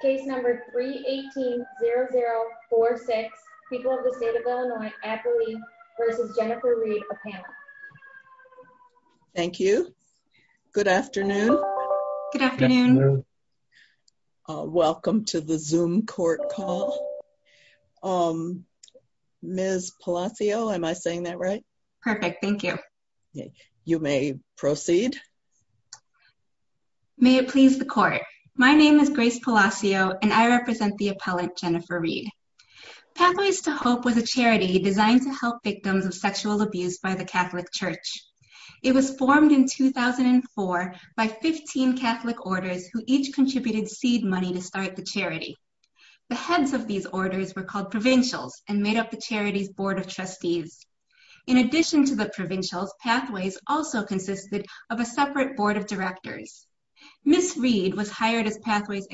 Thank you. Good afternoon. Good afternoon. Welcome to the zoom court call. Um, Ms. Palacio, am I saying that right? Perfect, thank you. You may proceed. May it please the court. My name is Grace Palacio and I represent the appellant Jennifer Reed. Pathways to Hope was a charity designed to help victims of sexual abuse by the Catholic Church. It was formed in 2004 by 15 Catholic orders who each contributed seed money to start the charity. The heads of these orders were called Provincials and made up the charity's board of trustees. In addition to the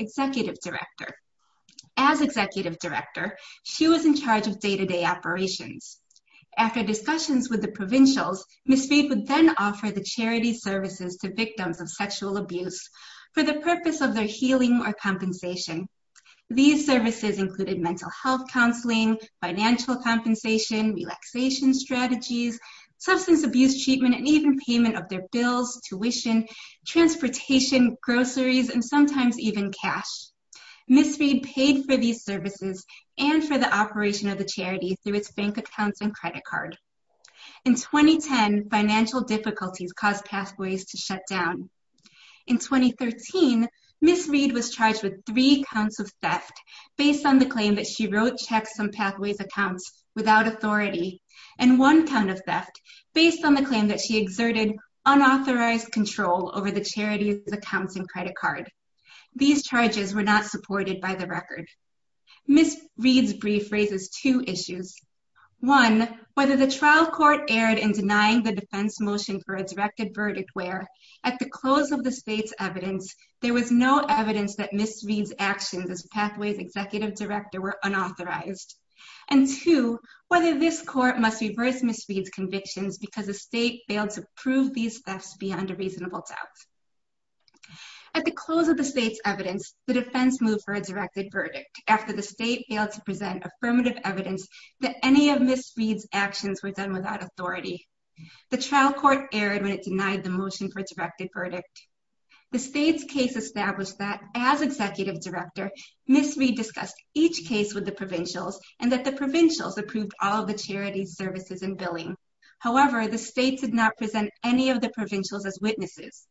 executive director. As executive director, she was in charge of day-to-day operations. After discussions with the Provincials, Ms. Reed would then offer the charity services to victims of sexual abuse for the purpose of their healing or compensation. These services included mental health counseling, financial compensation, relaxation strategies, substance abuse treatment, and even payment of their bills, tuition, transportation, groceries, and sometimes even cash. Ms. Reed paid for these services and for the operation of the charity through its bank accounts and credit card. In 2010, financial difficulties caused Pathways to shut down. In 2013, Ms. Reed was charged with three counts of theft based on the claim that she wrote checks on Pathways accounts without authority and one count of theft based on the claim that she exerted unauthorized control over the charity's accounts and credit card. These charges were not supported by the record. Ms. Reed's brief raises two issues. One, whether the trial court erred in denying the defense motion for a directed verdict where at the close of the state's evidence, there was no and two, whether this court must reverse Ms. Reed's convictions because the state failed to prove these thefts beyond a reasonable doubt. At the close of the state's evidence, the defense moved for a directed verdict after the state failed to present affirmative evidence that any of Ms. Reed's actions were done without authority. The trial court erred when it denied the motion for a directed verdict. The state's case established that as Executive Director, Ms. Reed discussed each case with the Provincials and that the Provincials approved all the charity's services and billing. However, the state did not present any of the Provincials as witnesses.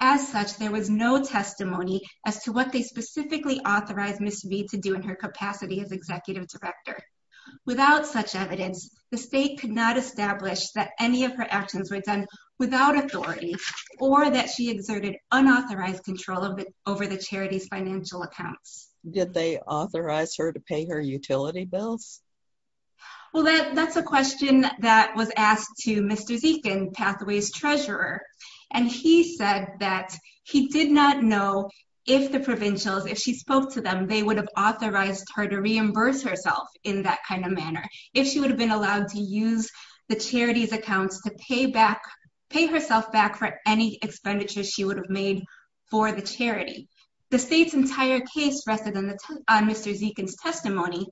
As such, there was no testimony as to what they specifically authorized Ms. Reed to do in her capacity as Executive Director. Without such evidence, the state could not establish that any of her actions were done without authority or that she exerted unauthorized control over the charity's financial accounts. Did they authorize her to pay her utility bills? Well, that's a question that was asked to Mr. Zekin, Pathways Treasurer, and he said that he did not know if the Provincials, if she spoke to them, they would have authorized her to reimburse herself in that kind of manner, if she would have been allowed to use the charity's accounts to pay back, pay herself back for any expenditures she would have made for the charity. The state's entire case rested on Mr. Zekin's testimony,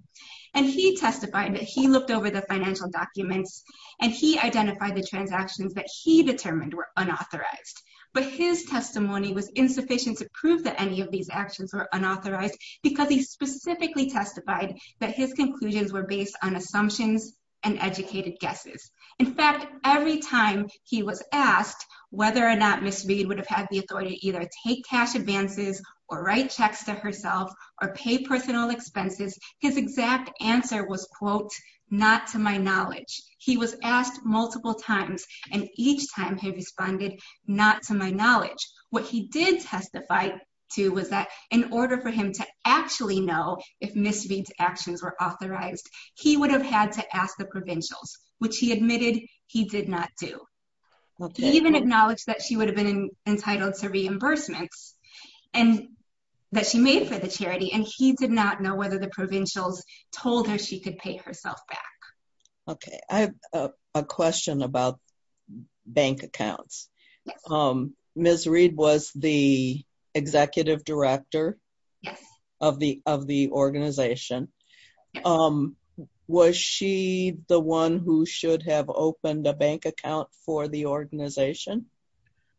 and he testified that he looked over the financial documents and he identified the transactions that he determined were unauthorized, but his testimony was insufficient to prove that any of these actions were unauthorized because he specifically testified that his conclusions were based on assumptions and educated guesses. In fact, every time he was asked whether or not Ms. Reed would have had the authority to either take cash advances or write checks to herself or pay personal expenses, his exact answer was, quote, not to my knowledge. He was asked multiple times, and each time he responded, not to my knowledge. What he did testify to was that in order for him to actually know if Ms. Reed's actions were unauthorized, he did not do. He even acknowledged that she would have been entitled to reimbursements and that she made for the charity, and he did not know whether the provincials told her she could pay herself back. Okay, I have a question about bank accounts. Ms. Reed was the executive director of the organization. Was she the one who should have opened a bank account for the organization?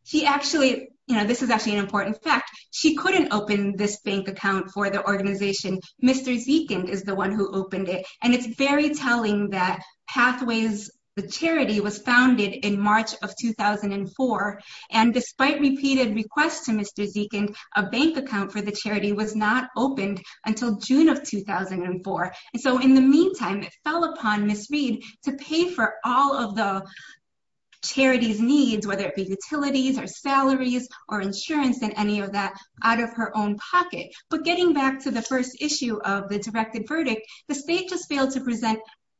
She actually, you know, this is actually an important fact. She couldn't open this bank account for the organization. Mr. Zeekand is the one who opened it, and it's very telling that Pathways Charity was founded in March of 2004, and despite repeated requests to Mr. Zeekand, a bank account for the charity was not opened until June of 2004, and so in the meantime, it fell upon Ms. Reed to pay for all of the charity's needs, whether it be utilities or salaries or insurance and any of that, out of her own pocket, but getting back to the first issue of the directed verdict, the state just failed to present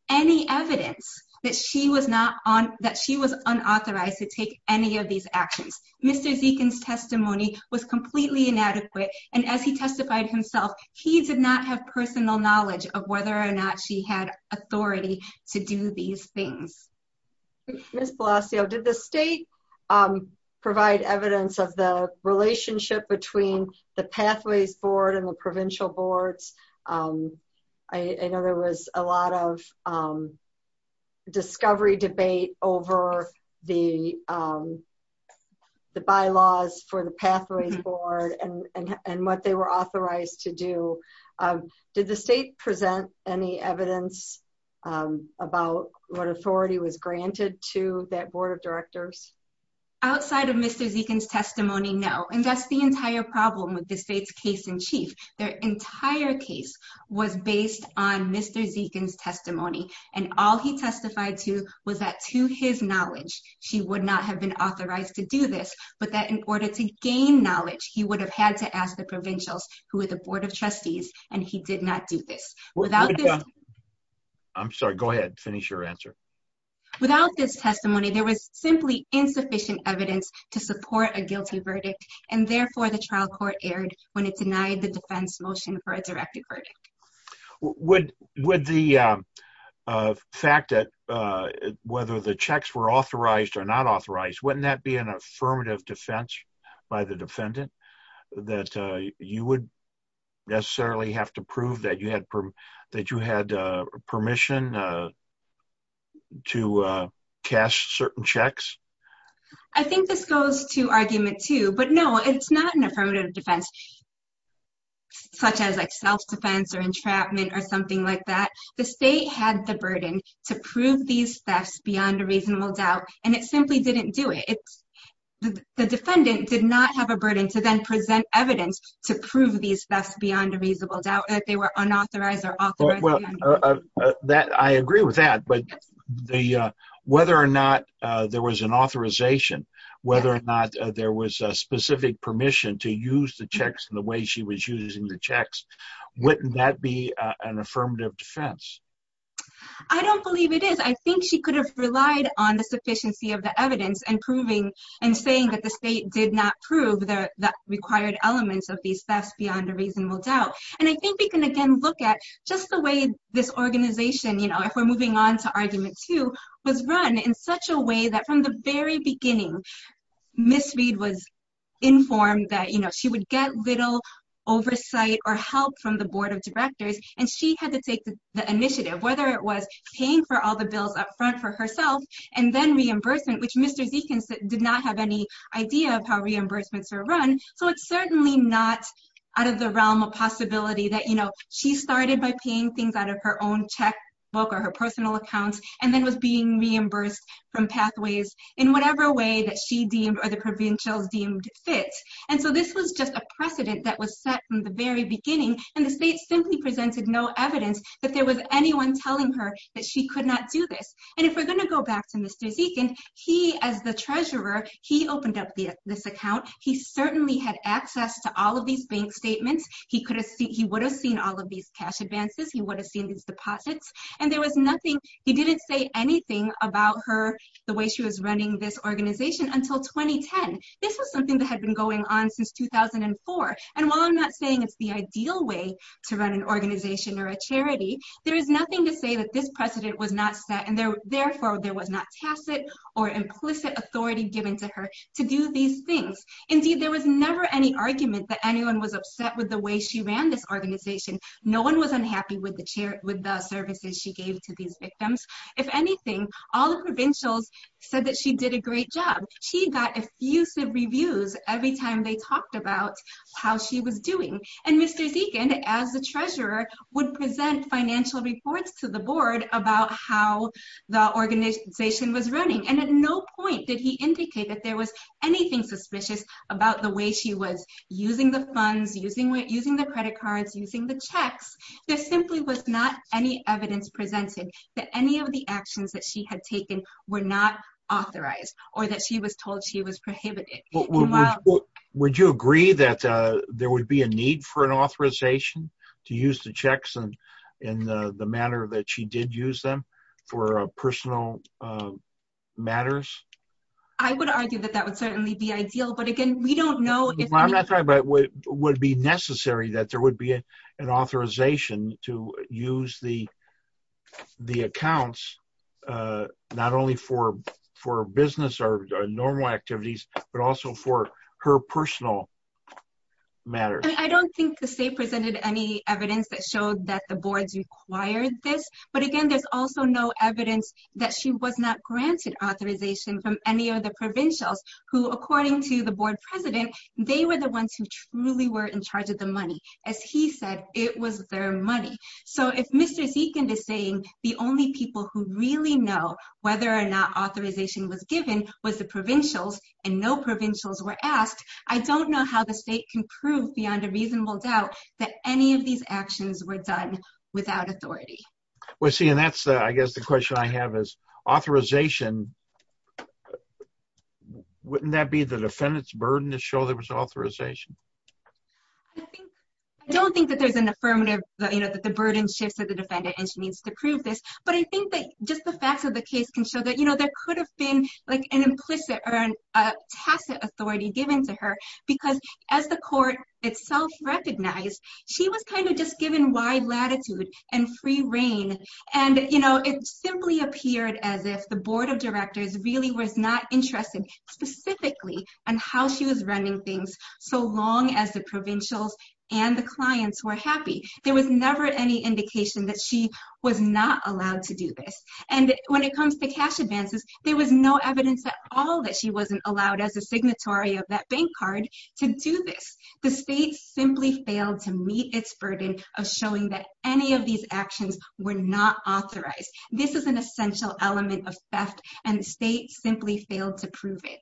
any evidence that she was not on, that she was unauthorized to take any of these actions. Mr. Zeekand's testimony was completely inadequate, and as testified himself, he did not have personal knowledge of whether or not she had authority to do these things. Ms. Palacio, did the state provide evidence of the relationship between the Pathways Board and the provincial boards? I know there was a lot of discovery debate over the bylaws for the Pathways Board and what they were authorized to do. Did the state present any evidence about what authority was granted to that board of directors? Outside of Mr. Zeekand's testimony, no, and that's the entire problem with the state's case in chief. Their entire case was based on Mr. Zeekand's testimony, and all he testified to was that, to his knowledge, she would not have been authorized to do this, but that in order to gain knowledge, he would have had to ask the provincials, who are the board of trustees, and he did not do this. I'm sorry, go ahead, finish your answer. Without this testimony, there was simply insufficient evidence to support a guilty verdict, and therefore, the trial court erred when it denied the defense motion for a directed verdict. Would the fact that whether the checks were authorized or not authorized, wouldn't that be an affirmative defense by the defendant that you would necessarily have to prove that you had permission to cast certain checks? I think this goes to argument two, but no, it's not an affirmative defense, such as self-defense or entrapment or something like that. The state had the burden to prove these thefts beyond a reasonable doubt, and it simply didn't do it. The defendant did not have a burden to then present evidence to prove these thefts beyond a reasonable doubt that they were unauthorized or authorized. I agree with that, but whether or not there was an authorization, whether or not there was a specific permission to use the checks in the way she was using the checks, wouldn't that be an affirmative defense? I don't believe it is. I think she could have relied on the sufficiency of the evidence in saying that the state did not prove the required elements of these thefts beyond a reasonable doubt. I think we can, again, look at just the way this organization, if we're moving on to argument two, was run in such a way that from the very beginning, Ms. Reed was informed that she would get little oversight or help from the board of directors, and she had to take the initiative, whether it was paying for all the bills up front for herself and then reimbursement, which Mr. Zekin did not have any idea of how reimbursements are run. So it's certainly not out of the realm of possibility that she started by paying things out of her own checkbook or her personal account and then was being reimbursed from pathways in whatever way that she deemed or the provincials deemed fit. And so this was just a precedent that was set from the very beginning, and the state simply presented no evidence that there was anyone telling her that she could not do this. And if we're going to go back to Mr. Zekin, he, as the treasurer, he opened up this account. He certainly had access to all of these bank deposits, and there was nothing, he didn't say anything about her, the way she was running this organization until 2010. This was something that had been going on since 2004. And while I'm not saying it's the ideal way to run an organization or a charity, there is nothing to say that this precedent was not set, and therefore there was not tacit or implicit authority given to her to do these things. Indeed, there was never any argument that anyone was upset with the way she ran this with the services she gave to these victims. If anything, all the provincials said that she did a great job. She got effusive reviews every time they talked about how she was doing. And Mr. Zekin, as the treasurer, would present financial reports to the board about how the organization was running, and at no point did he indicate that there was anything suspicious about the way she was using the funds, using the credit cards, using the checks. There simply was not any evidence presented that any of the actions that she had taken were not authorized or that she was told she was prohibited. Would you agree that there would be a need for an authorization to use the checks in the manner that she did use them for personal matters? I would argue that that would be ideal, but again, we don't know. I'm not talking about would it be necessary that there would be an authorization to use the accounts not only for business or normal activities, but also for her personal matters. I don't think the state presented any evidence that showed that the boards required this, but again, there's also no evidence that she was not granted authorization from any of the provincials who, according to the board president, they were the ones who truly were in charge of the money. As he said, it was their money. So if Mr. Zekin is saying the only people who really know whether or not authorization was given was the provincials and no provincials were asked, I don't know how the state can prove beyond a reasonable doubt that any of these actions were done without authority. Well, see, and that's, I guess, the question I have is wouldn't that be the defendant's burden to show there was authorization? I don't think that there's an affirmative, that the burden shifts to the defendant and she needs to prove this, but I think that just the facts of the case can show that there could have been like an implicit or a tacit authority given to her because as the court itself recognized, she was kind of just given wide latitude and free reign. And it simply appeared as if the board of directors really was not interested specifically on how she was running things so long as the provincials and the clients were happy. There was never any indication that she was not allowed to do this. And when it comes to cash advances, there was no evidence at all that she wasn't allowed as a signatory of that bank card to do this. The state simply failed to meet its burden of showing that any of these actions were not authorized. This is an essential element of theft and the state simply failed to prove it.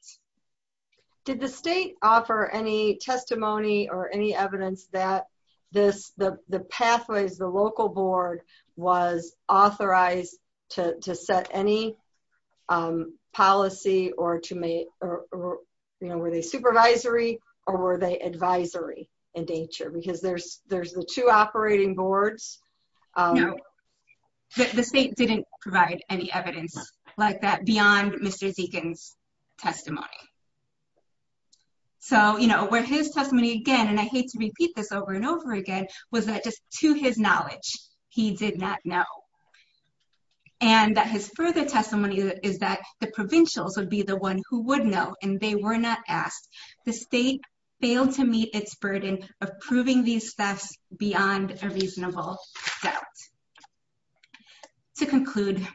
Did the state offer any testimony or any evidence that the pathways, the local board was authorized to set any policy or to make, you know, were they supervisory or were they advisory in nature? Because there's the two operating boards. No, the state didn't provide any evidence like that beyond Mr. Zekin's testimony. So, you know, where his testimony again, and I hate to repeat this over and over again, was that just to his knowledge, he did not know. And that his further testimony is that the provincials would be the one who would know and they were not asked. The state failed to meet its burden of proving these thefts beyond a reasonable doubt. To conclude,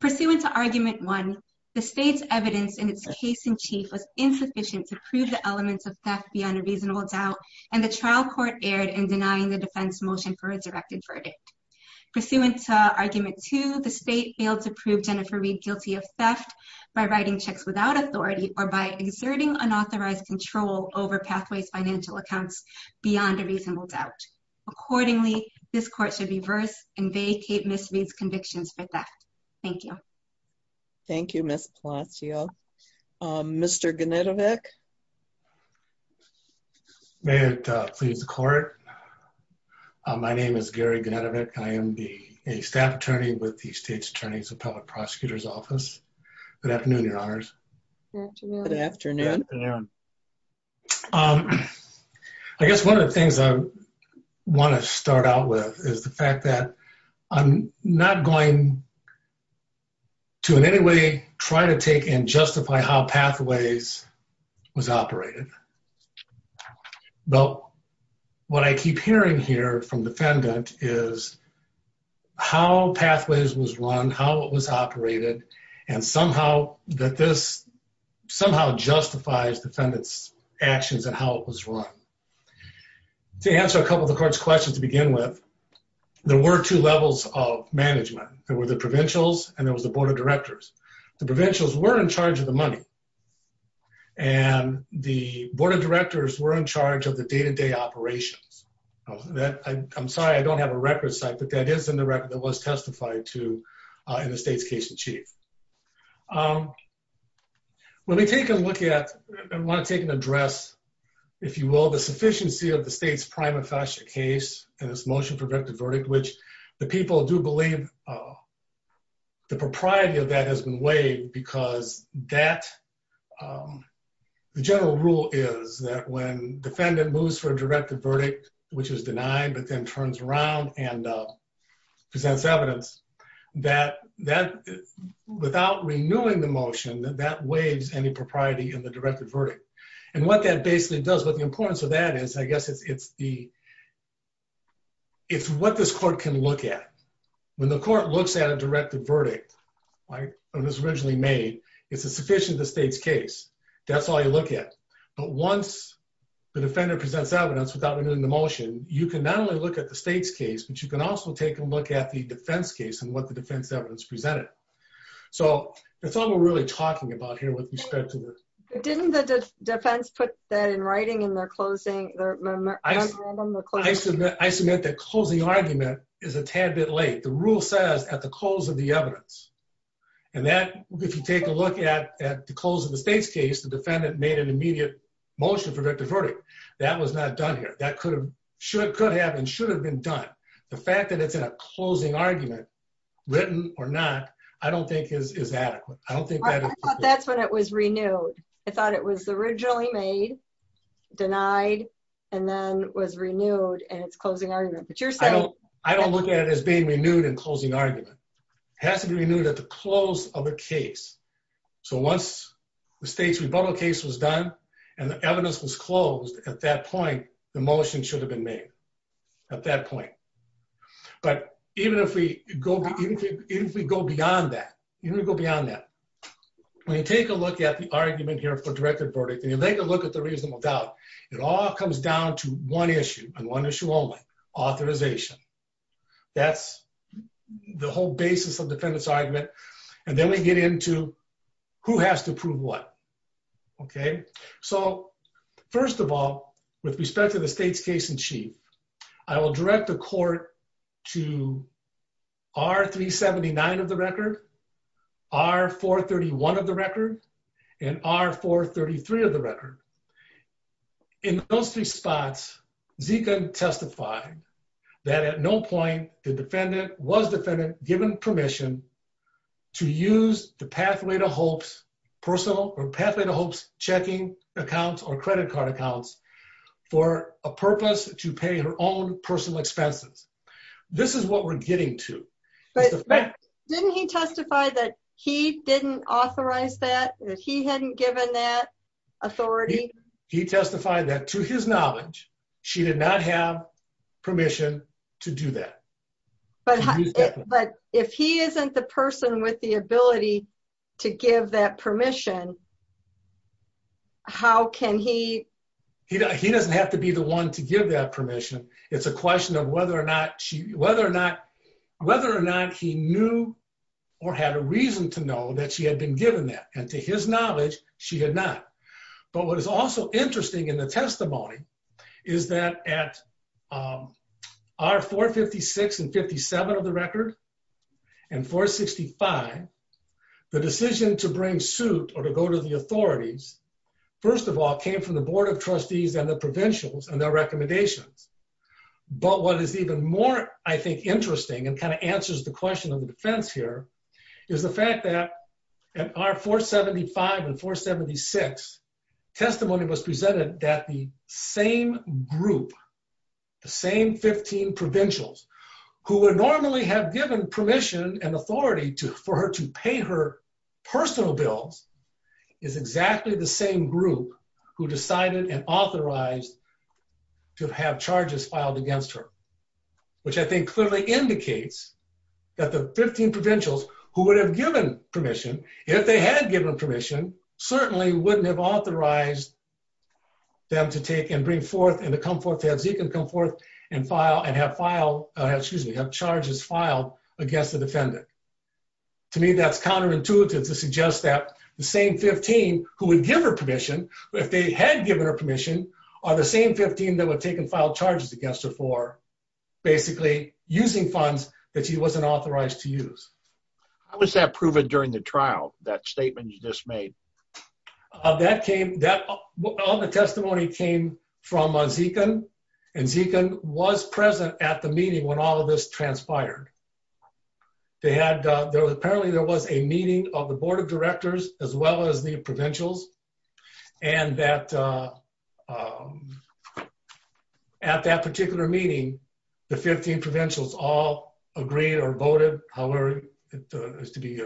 pursuant to the state's evidence in its case in chief was insufficient to prove the elements of theft beyond a reasonable doubt and the trial court erred in denying the defense motion for a directed verdict. Pursuant to argument two, the state failed to prove Jennifer Reed guilty of theft by writing checks without authority or by exerting unauthorized control over Pathways financial accounts beyond a reasonable doubt. Accordingly, this court should reverse and vacate Ms. Reed's testimony. Thank you, Ms. Palacio. Mr. Gnadovich? May it please the court. My name is Gary Gnadovich. I am a staff attorney with the State's Attorney's Appellate Prosecutor's Office. Good afternoon, Your Honors. Good afternoon. I guess one of the things I want to start out with is the fact that I'm not going to in any way try to take and justify how Pathways was operated. But what I keep hearing here from defendant is how Pathways was run, how it was operated, and somehow that this somehow justifies defendant's actions and how it was run. To answer a couple of the court's questions to begin with, there were two levels of management. There were the Provincials and there was the Board of Directors. The Provincials were in charge of the money and the Board of Directors were in charge of the day-to-day operations. I'm sorry, I don't have a record site, but that is in the record that was testified to in the state's case in chief. Let me take a look at, I want to take an address, if you will, the sufficiency of the state's case and its motion for directed verdict, which the people do believe the propriety of that has been waived because the general rule is that when defendant moves for a directed verdict, which is denied, but then turns around and presents evidence, without renewing the motion, that waives any propriety in the directed verdict. What that basically does, the importance of that is, I guess, it's what this court can look at. When the court looks at a directed verdict, like it was originally made, it's a sufficient to state's case. That's all you look at. Once the defendant presents evidence without renewing the motion, you can not only look at the state's case, but you can also take a look at the defense case and what the defense evidence presented. That's all we're really talking about here with respect to Didn't the defense put that in writing in their closing? I submit that closing argument is a tad bit late. The rule says at the close of the evidence. And that, if you take a look at the close of the state's case, the defendant made an immediate motion for a directed verdict. That was not done here. That could have and should have been done. The fact that it's in a closing argument, written or not, I don't think is adequate. That's when it was renewed. I thought it was originally made, denied, and then was renewed and it's closing argument. I don't look at it as being renewed and closing argument. It has to be renewed at the close of a case. So once the state's rebuttal case was done and the evidence was closed, at that point, the motion should have been made at that point. But even if we go beyond that, even go beyond that, when you take a look at the argument here for directed verdict, and you take a look at the reasonable doubt, it all comes down to one issue and one issue only, authorization. That's the whole basis of defendant's argument. And then we get into who has to prove what. Okay, so first of all, with respect to the state's case in chief, I will direct the court to R-379 of the record, R-431 of the record, and R-433 of the record. In those three spots, Zekun testified that at no point was defendant given permission to use the Pathway to Hope's personal or Pathway to Hope's checking accounts or credit card accounts for a purpose to pay her own personal expenses. This is what we're getting to. Didn't he testify that he didn't authorize that, that he hadn't given that authority? He testified that to his knowledge, she did not have permission to do that. But if he isn't the person with the ability to give that permission, how can he? He doesn't have to be the one to give that permission. It's a question of whether or not she, whether or not, whether or not he knew or had a reason to know that she had been given that. And to his knowledge, she had not. But what is also interesting in the testimony is that at R-456 and R-457 of the record and R-465, the decision to bring suit or to go to the authorities, first of all, came from the Board of Trustees and the provincials and their recommendations. But what is even more, I think, interesting and kind of answers the question of the defense here is the fact that at R-475 and R-476, testimony was presented that the same group, the same 15 provincials who would normally have given permission and authority to, for her to pay her personal bills, is exactly the same group who decided and authorized to have charges filed against her, which I think clearly indicates that the 15 provincials who would have given permission, if they had given permission, certainly wouldn't have authorized them to take and bring forth and and have charges filed against the defendant. To me, that's counterintuitive to suggest that the same 15 who would give her permission, if they had given her permission, are the same 15 that would take and file charges against her for basically using funds that she wasn't authorized to use. How was that proven during the trial, that statement you just made? That came, all the testimony came from Zekun and Zekun was present at the meeting when all of this transpired. They had, apparently there was a meeting of the Board of Directors as well as the provincials and that at that particular meeting, the 15 provincials all agreed or voted however it was to be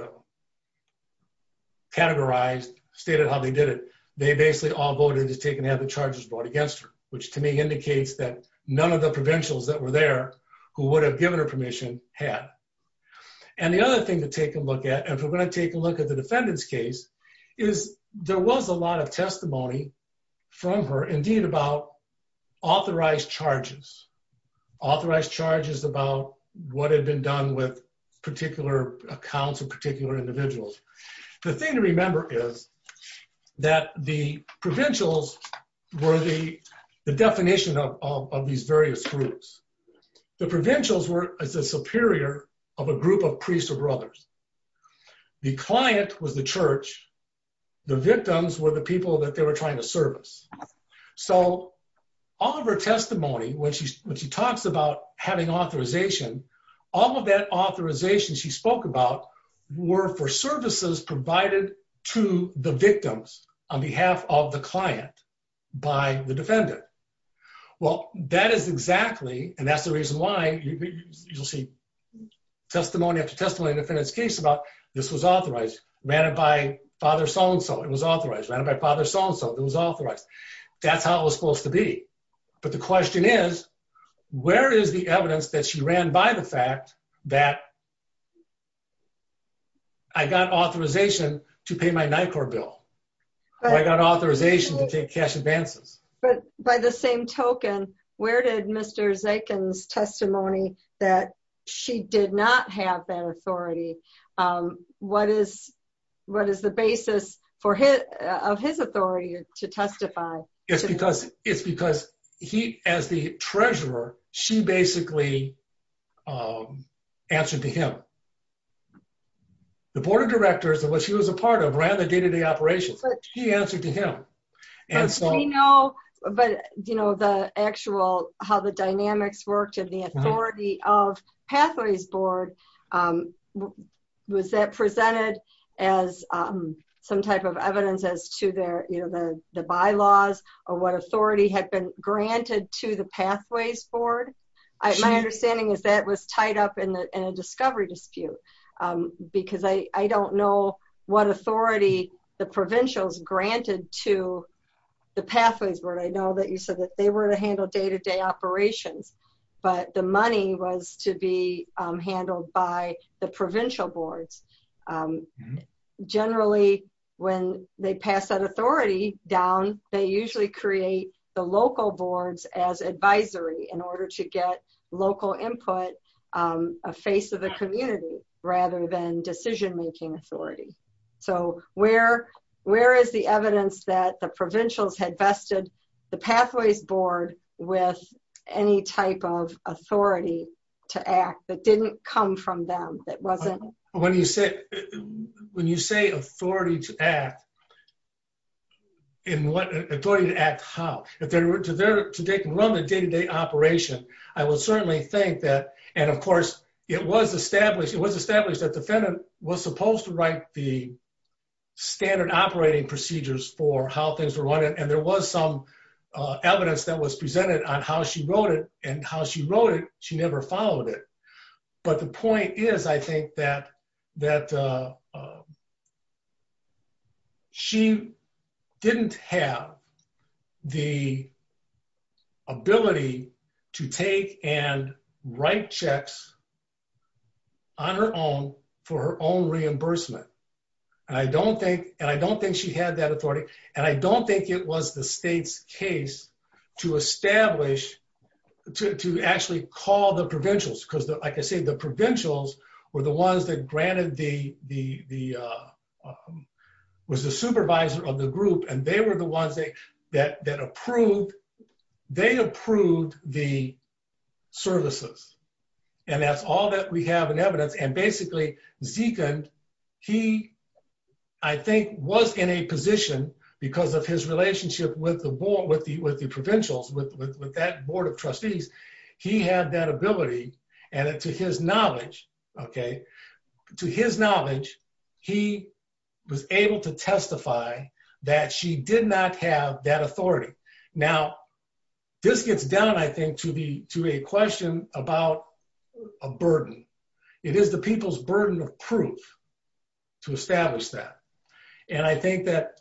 categorized, stated how they did it. They basically all voted to take and have the charges brought against her, which to me indicates that none of the provincials that were there who would have given her permission had. And the other thing to take a look at, and we're going to take a look at the defendant's case, is there was a lot of testimony from her, about authorized charges, authorized charges about what had been done with particular accounts of particular individuals. The thing to remember is that the provincials were the definition of these various groups. The provincials were as a superior of a group of priests or brothers. The client was the church, the victims were the people that they were trying to serve. So all of her testimony, when she talks about having authorization, all of that authorization she spoke about were for services provided to the victims on behalf of the client by the defendant. Well, that is exactly, and that's the reason why you'll see testimony after testimony in the defendant's case about this was authorized, ran it by Father So-and-so, it was supposed to be. But the question is, where is the evidence that she ran by the fact that I got authorization to pay my NICOR bill? I got authorization to take cash advances. But by the same token, where did Mr. Zakin's testimony that she did not have that authority, what is the basis of his authority to testify? It's because he, as the treasurer, she basically answered to him. The board of directors, which she was a part of, ran the day-to-day operations. She answered to him. But the actual, how the dynamics worked and the authority of was that presented as some type of evidence as to their, you know, the bylaws or what authority had been granted to the Pathways Board. My understanding is that was tied up in a discovery dispute because I don't know what authority the provincials granted to the Pathways Board. I know that you said that they were to handle day-to-day operations, but the money was to be paid to the provincial boards. Generally, when they pass that authority down, they usually create the local boards as advisory in order to get local input, a face of the community, rather than decision-making authority. So where is the evidence that the provincials had vested the Pathways Board with any type of authority to act that didn't come from them? When you say authority to act, in what, authority to act how? If they were to take and run the day-to-day operation, I would certainly think that, and of course, it was established, it was established that the defendant was supposed to write the standard operating procedures for how things were run, and there was some evidence that was presented on how she wrote it, and how she wrote it, she never followed it. But the point is, I think, that she didn't have the ability to take and write checks on her own for her own reimbursement, and I don't think she had that authority, and I don't think it was the state's case to establish, to actually call the provincials, because like I say, the provincials were the ones that granted the, was the supervisor of the group, and they were the ones that approved, they approved the services, and that's all that we have in evidence, and basically, Zekund, he, I think, was in a position, because of his relationship with the board, with the provincials, with that board of trustees, he had that ability, and to his knowledge, okay, to his knowledge, he was able to testify that she did not have that authority. Now, this gets down, I think, to a question about a burden. It is the people's burden of proof to establish that, and I think that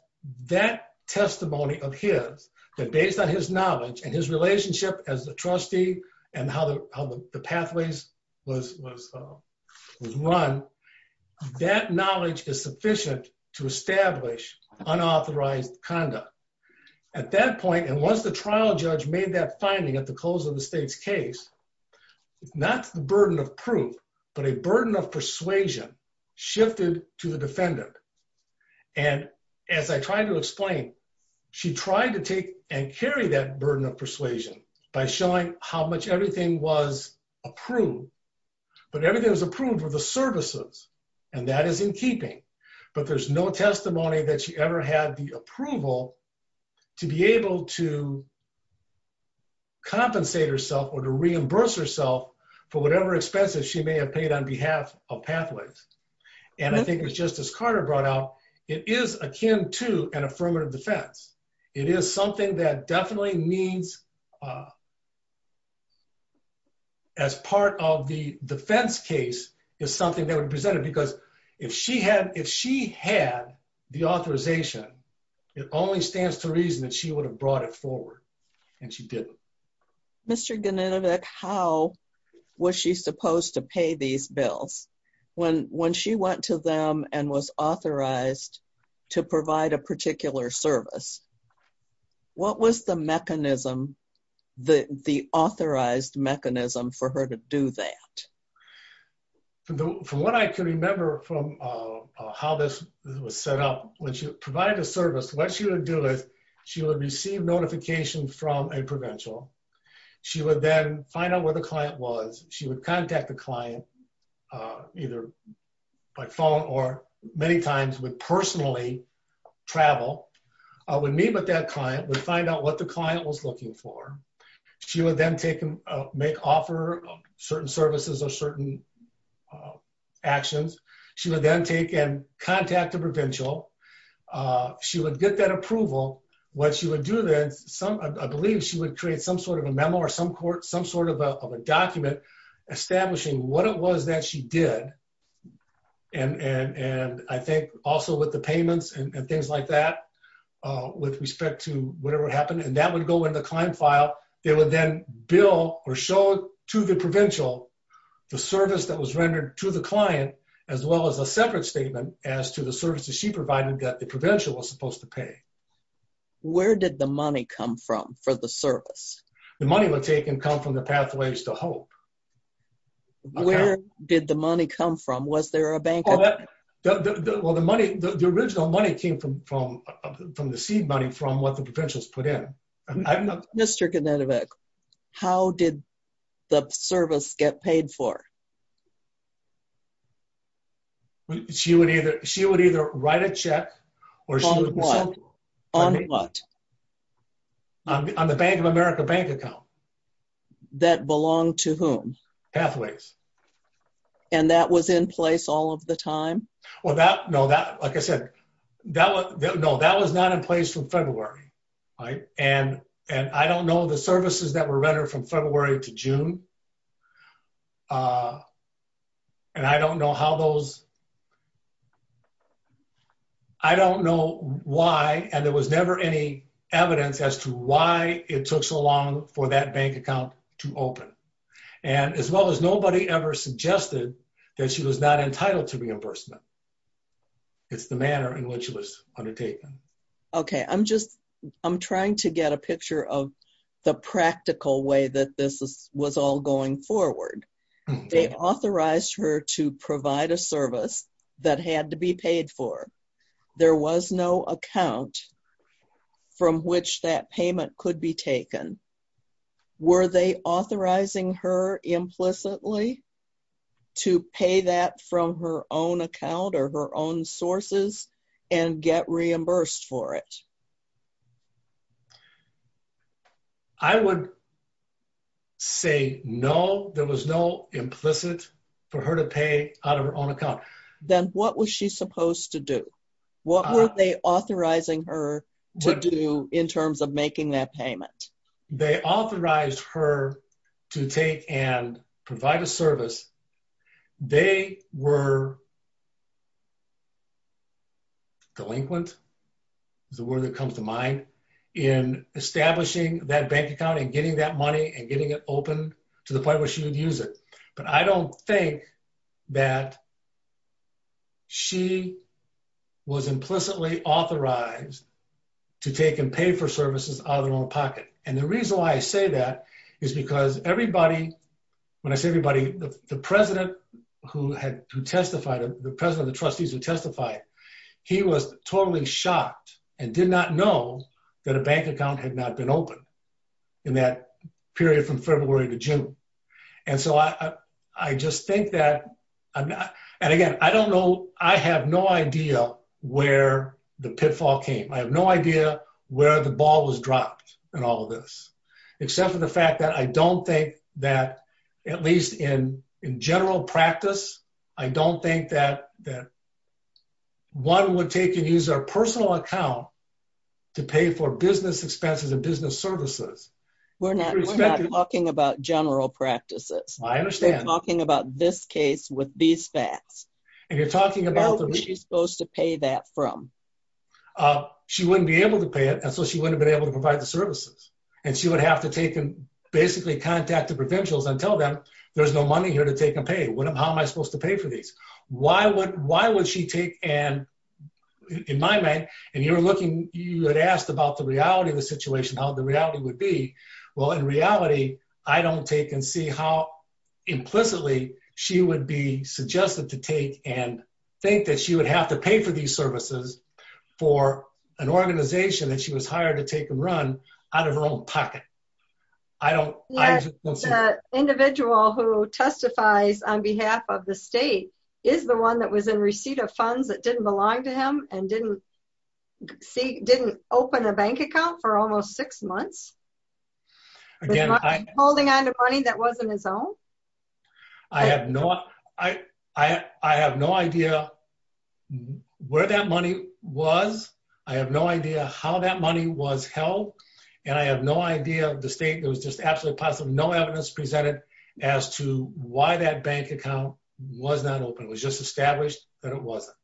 that testimony of his, that based on his knowledge and his relationship as the trustee, and how the pathways was run, that knowledge is sufficient to establish unauthorized conduct. At that point, and once the trial judge made that finding at the close of the state's case, not the burden of proof, but a burden of persuasion shifted to the defendant, and as I tried to explain, she tried to take and carry that burden of persuasion by showing how much everything was approved, but everything was approved for the keeping, but there's no testimony that she ever had the approval to be able to compensate herself or to reimburse herself for whatever expenses she may have paid on behalf of Pathways, and I think it was just as Carter brought out, it is akin to an affirmative defense. It is something that definitely means, as part of the defense case, is something that would present it, because if she had, if she had the authorization, it only stands to reason that she would have brought it forward, and she didn't. Mr. Geninovic, how was she supposed to pay these bills when she went to them and was there, and what was the mechanism, the authorized mechanism for her to do that? From what I can remember from how this was set up, when she provided a service, what she would do is she would receive notification from a provincial. She would then find out where the client was. She would contact the client, either by phone or many times would personally travel, would meet with that client, would find out what the client was looking for. She would then make offer of certain services or certain actions. She would then take and contact the provincial. She would get that approval. What she would do then, I believe she would create some sort of a memo or some sort of a document establishing what it was that she did, and I think also with the payments and things like that, with respect to whatever happened, and that would go in the client file. It would then bill or show to the provincial the service that was rendered to the client, as well as a separate statement as to the services she provided that the provincial was supposed to pay. Where did the money come from for the service? The money would take and come from the Pathways to Hope. Where did the money come from? Was there a bank? Well, the money, the original money came from the seed money from what the provincials put in. Mr. Knutovic, how did the service get paid for? She would either write a check. On what? On the Bank of America bank account. That belonged to whom? Pathways. And that was in place all of the time? Well, that, no, that, like I said, that was, no, that was not in place from February, right, and I don't know the services that were rendered from February to June, and I don't know how those, I don't know why, and there was never any evidence as to why it took so long for that bank account to open, and as well as nobody ever suggested that she was not entitled to reimbursement. It's the manner in which it was undertaken. Okay, I'm just, I'm trying to get a picture of the practical way that this was all going forward. They authorized her to provide a service that had to be paid for. There was no account from which that payment could be taken. Were they authorizing her implicitly to pay that from her own account or her own sources and get reimbursed for it? I would say, no, there was no implicit for her to pay out of her own account. Then what was she supposed to do? What were they authorizing her to do in terms of making that payment? They authorized her to take and provide a service. They were delinquent, is a word that comes to mind, in establishing that bank account and getting that money and getting it open to the point where she would use it, but I don't think that she was implicitly authorized to take and pay for services out of their own pocket, and the reason why I say that is because everybody, when I say everybody, the president who testified, the president of the trustees who testified, he was totally shocked and did not know that a bank account had not been open in that period from February to June. So I just think that, and again, I don't know, I have no idea where the pitfall came. I have no idea where the ball was dropped in all of this, except for the fact that I don't think that, at least in general practice, I don't think that one would take and use their personal account to pay for business expenses and business services. We're not talking about general practices. I understand. We're talking about this case with these facts. And you're talking about- Where was she supposed to pay that from? She wouldn't be able to pay it, and so she wouldn't have been able to provide the services, and she would have to take and basically contact the provincials and tell them, there's no money here to take and pay. How am I supposed to pay for these? Why would she take and, in my mind, and you were looking, you had asked about the reality of the situation, how the reality would be. Well, in reality, I don't take and see how implicitly she would be suggested to take and think that she would have to pay for these services for an organization that she was hired to take and run. Out of her own pocket. I don't- Yes, the individual who testifies on behalf of the state is the one that was in receipt of funds that didn't belong to him and didn't open a bank account for almost six months. Again, I- Holding on to money that wasn't his own. I have no idea where that money was. I have no idea how that money was held. I have no idea of the state. There was just absolutely no evidence presented as to why that bank account was not open. It was just established that it wasn't.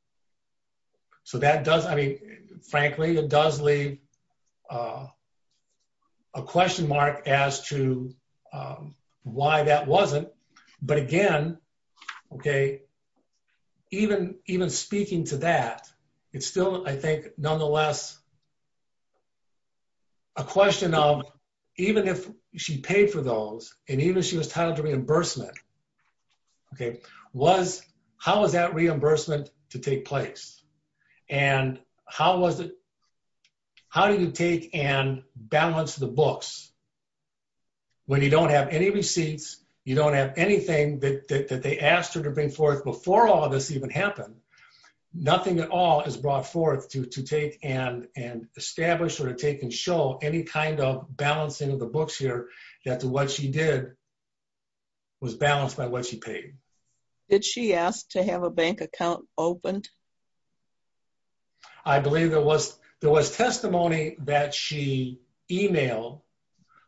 Frankly, it does leave a question mark as to why that wasn't. But again, even speaking to that, it's still, I think, nonetheless, a question of even if she paid for those, and even if she was titled to reimbursement, how was that reimbursement to take place? And how did you take and balance the books when you don't have any receipts, you don't have anything that they asked her to bring forth before all of this even happened? Nothing at all is brought forth to take and establish or to take and show any kind of balancing of the books here that to what she did was balanced by what she paid. Did she ask to have a bank account opened? I believe there was testimony that she emailed,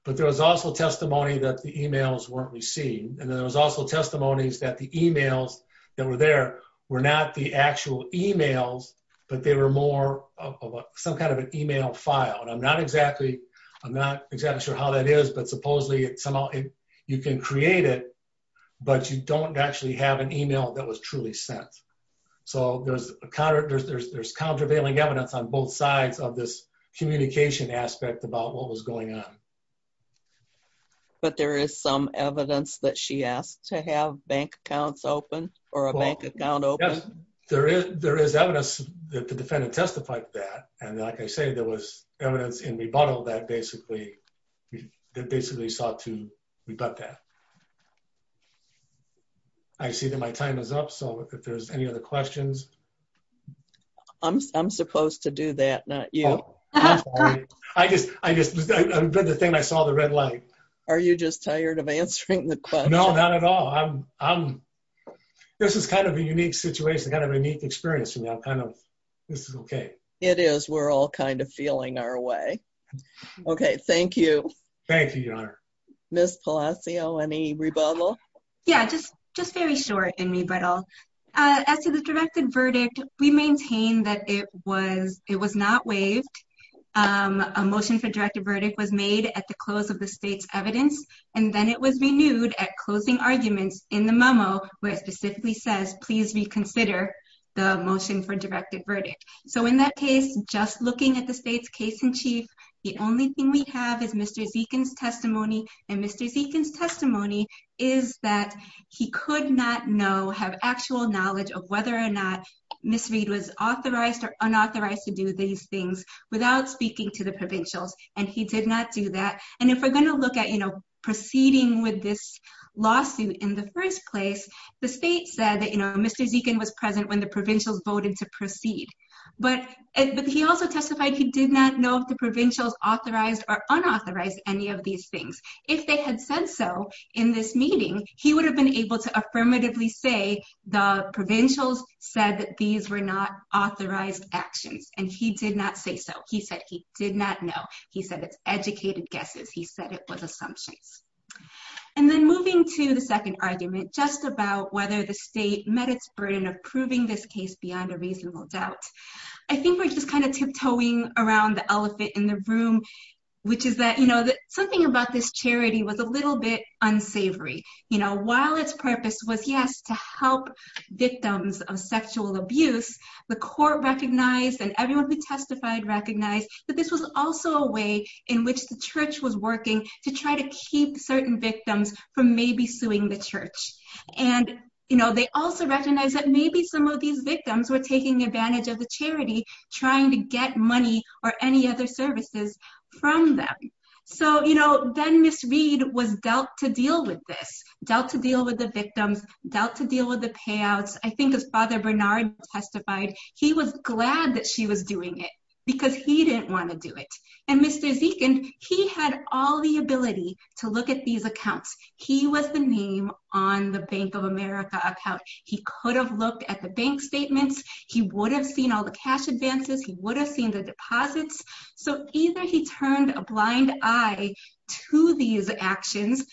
but there was also testimony that the emails weren't received. And then there was also testimonies that the emails that were there were not the actual emails, but they were more of some kind of an email file. And I'm not exactly sure how that is, but supposedly somehow you can create it, but you don't actually have an email that was truly sent. So there's countervailing evidence on both sides of this communication aspect about what was going on. But there is some evidence that she asked to have bank accounts open or a bank account open. Yes, there is evidence that the defendant testified to that. And like I say, there was evidence in rebuttal that basically sought to rebut that. I see that my time is up. So if there's any other questions. I'm supposed to do that, not you. I just, I read the thing, I saw the red light. Are you just tired of answering the question? No, not at all. This is kind of a unique situation, kind of a unique experience for me. I'm kind of, this is okay. It is, we're all kind of feeling our way. Okay, thank you. Thank you, Your Honor. Ms. Palacio, any rebuttal? Yeah, just very short in rebuttal. As to the directed verdict, we maintain that it was not waived. A motion for directed verdict was made at the close of the state's evidence. And then it was renewed at closing arguments in the memo, where it specifically says, please reconsider the motion for directed verdict. So in that case, just looking at the state's case in chief, the only thing we have is Mr. Zekin's testimony. And Mr. Zekin's testimony is that he could not know, have actual knowledge of whether or not Ms. Reed was authorized or unauthorized to do these things without speaking to the provincials. And he did not do that. And if we're gonna look at, you know, proceeding with this lawsuit in the first place, the state said that, you know, Mr. Zekin was present when the provincials voted to proceed. But he also testified he did not know if the provincials authorized or unauthorized any of these things. If they had said so in this meeting, he would have been able to affirmatively say the provincials said that these were not authorized actions. And he did not say so. He said he did not know. He said it's educated guesses. He said it was assumptions. And then moving to the second argument, just about whether the state met its burden of proving this case beyond a reasonable doubt, I think we're just kind of tiptoeing around the elephant in the room, which is that, you know, something about this charity was a little bit unsavory. You know, while its purpose was, yes, to help victims of sexual abuse, the court recognized, and everyone who testified recognized that this was also a way in which the church was working to try to keep certain victims from maybe suing the church. And, you know, they also recognize that maybe some of these victims were taking advantage of the charity, trying to get money or any other services from them. So, you know, then Ms. Reed was dealt to deal with this, dealt to deal with the victims, dealt to deal with the payouts. I think as Father Bernard testified, he was glad that she was doing it because he didn't want to do it. And Mr. Zekin, he had all the ability to look at these accounts. He was the name on the Bank of America account. He could have looked at the bank statements. He would have seen all the cash advances. He would have seen the deposits. So either he turned a blind eye to these actions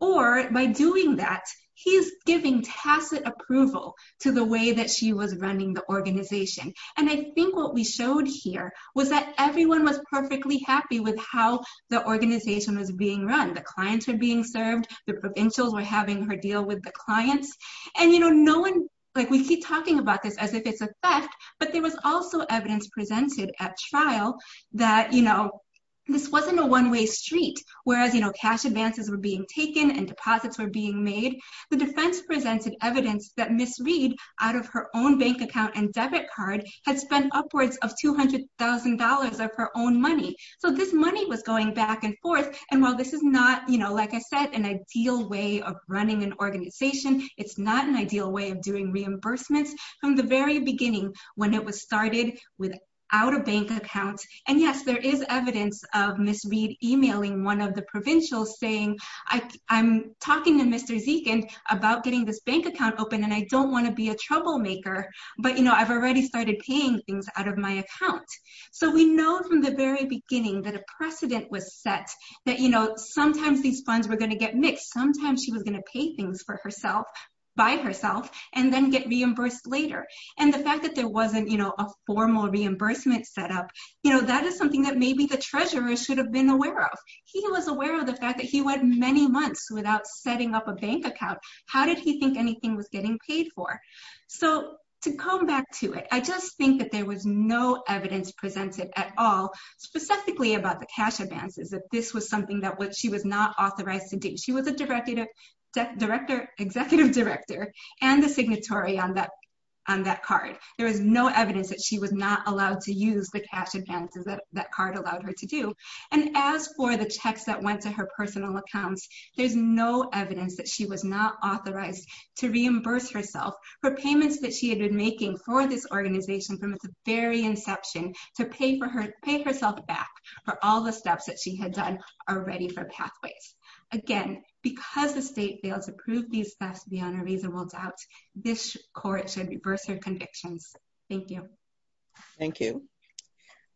or by doing that, he's giving tacit approval to the way that she was running the organization. And I think what we showed here was that everyone was perfectly happy with how the organization was being run. The clients were being served. The provincials were having her deal with the clients. And, you know, no one, like we keep talking about this as if it's a theft, but there was also evidence presented at trial that, you know, this wasn't a one-way street. Whereas, you know, cash advances were being taken and deposits were being made. The defense presented evidence that Ms. Reed out of her own bank account and debit card had spent upwards of $200,000 of her own money. So this money was going back and forth. And while this is not, you know, like I said, an ideal way of running an organization, it's not an ideal way of doing reimbursements from the very beginning when it was started without a bank account. And yes, there is evidence of Ms. Reed emailing one of the provincials saying, I'm talking to Mr. Zekind about getting this bank account open. And I don't wanna be a troublemaker, but, you know, I've already started paying things out of my account. So we know from the very beginning that a precedent was set that, you know, sometimes these funds were gonna get mixed. Sometimes she was gonna pay things for herself, by herself, and then get reimbursed later. And the fact that there wasn't, you know, a formal reimbursement set up, you know, that is something that maybe the treasurer should have been aware of. He was aware of the fact that he went many months without setting up a bank account. How did he think anything was getting paid for? So to come back to it, I just think that there was no evidence presented at all, specifically about the cash advances, that this was something that she was not authorized to do. She was a executive director and the signatory on that card. There was no evidence that she was not allowed to use the cash advances that card allowed her to do. And as for the checks that went to her personal accounts, there's no evidence that she was not authorized to reimburse herself for payments that she had been making for this organization from its very inception, to pay herself back for all the steps that she had done already for Pathways. Again, because the state failed to prove these thefts beyond a reasonable doubt, this court should reverse her convictions. Thank you. Thank you.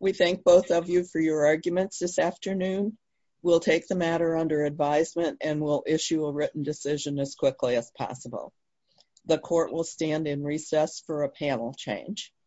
We thank both of you for your arguments this afternoon. We'll take the matter under advisement and we'll issue a written decision as quickly as possible. The court will stand in recess for a panel change.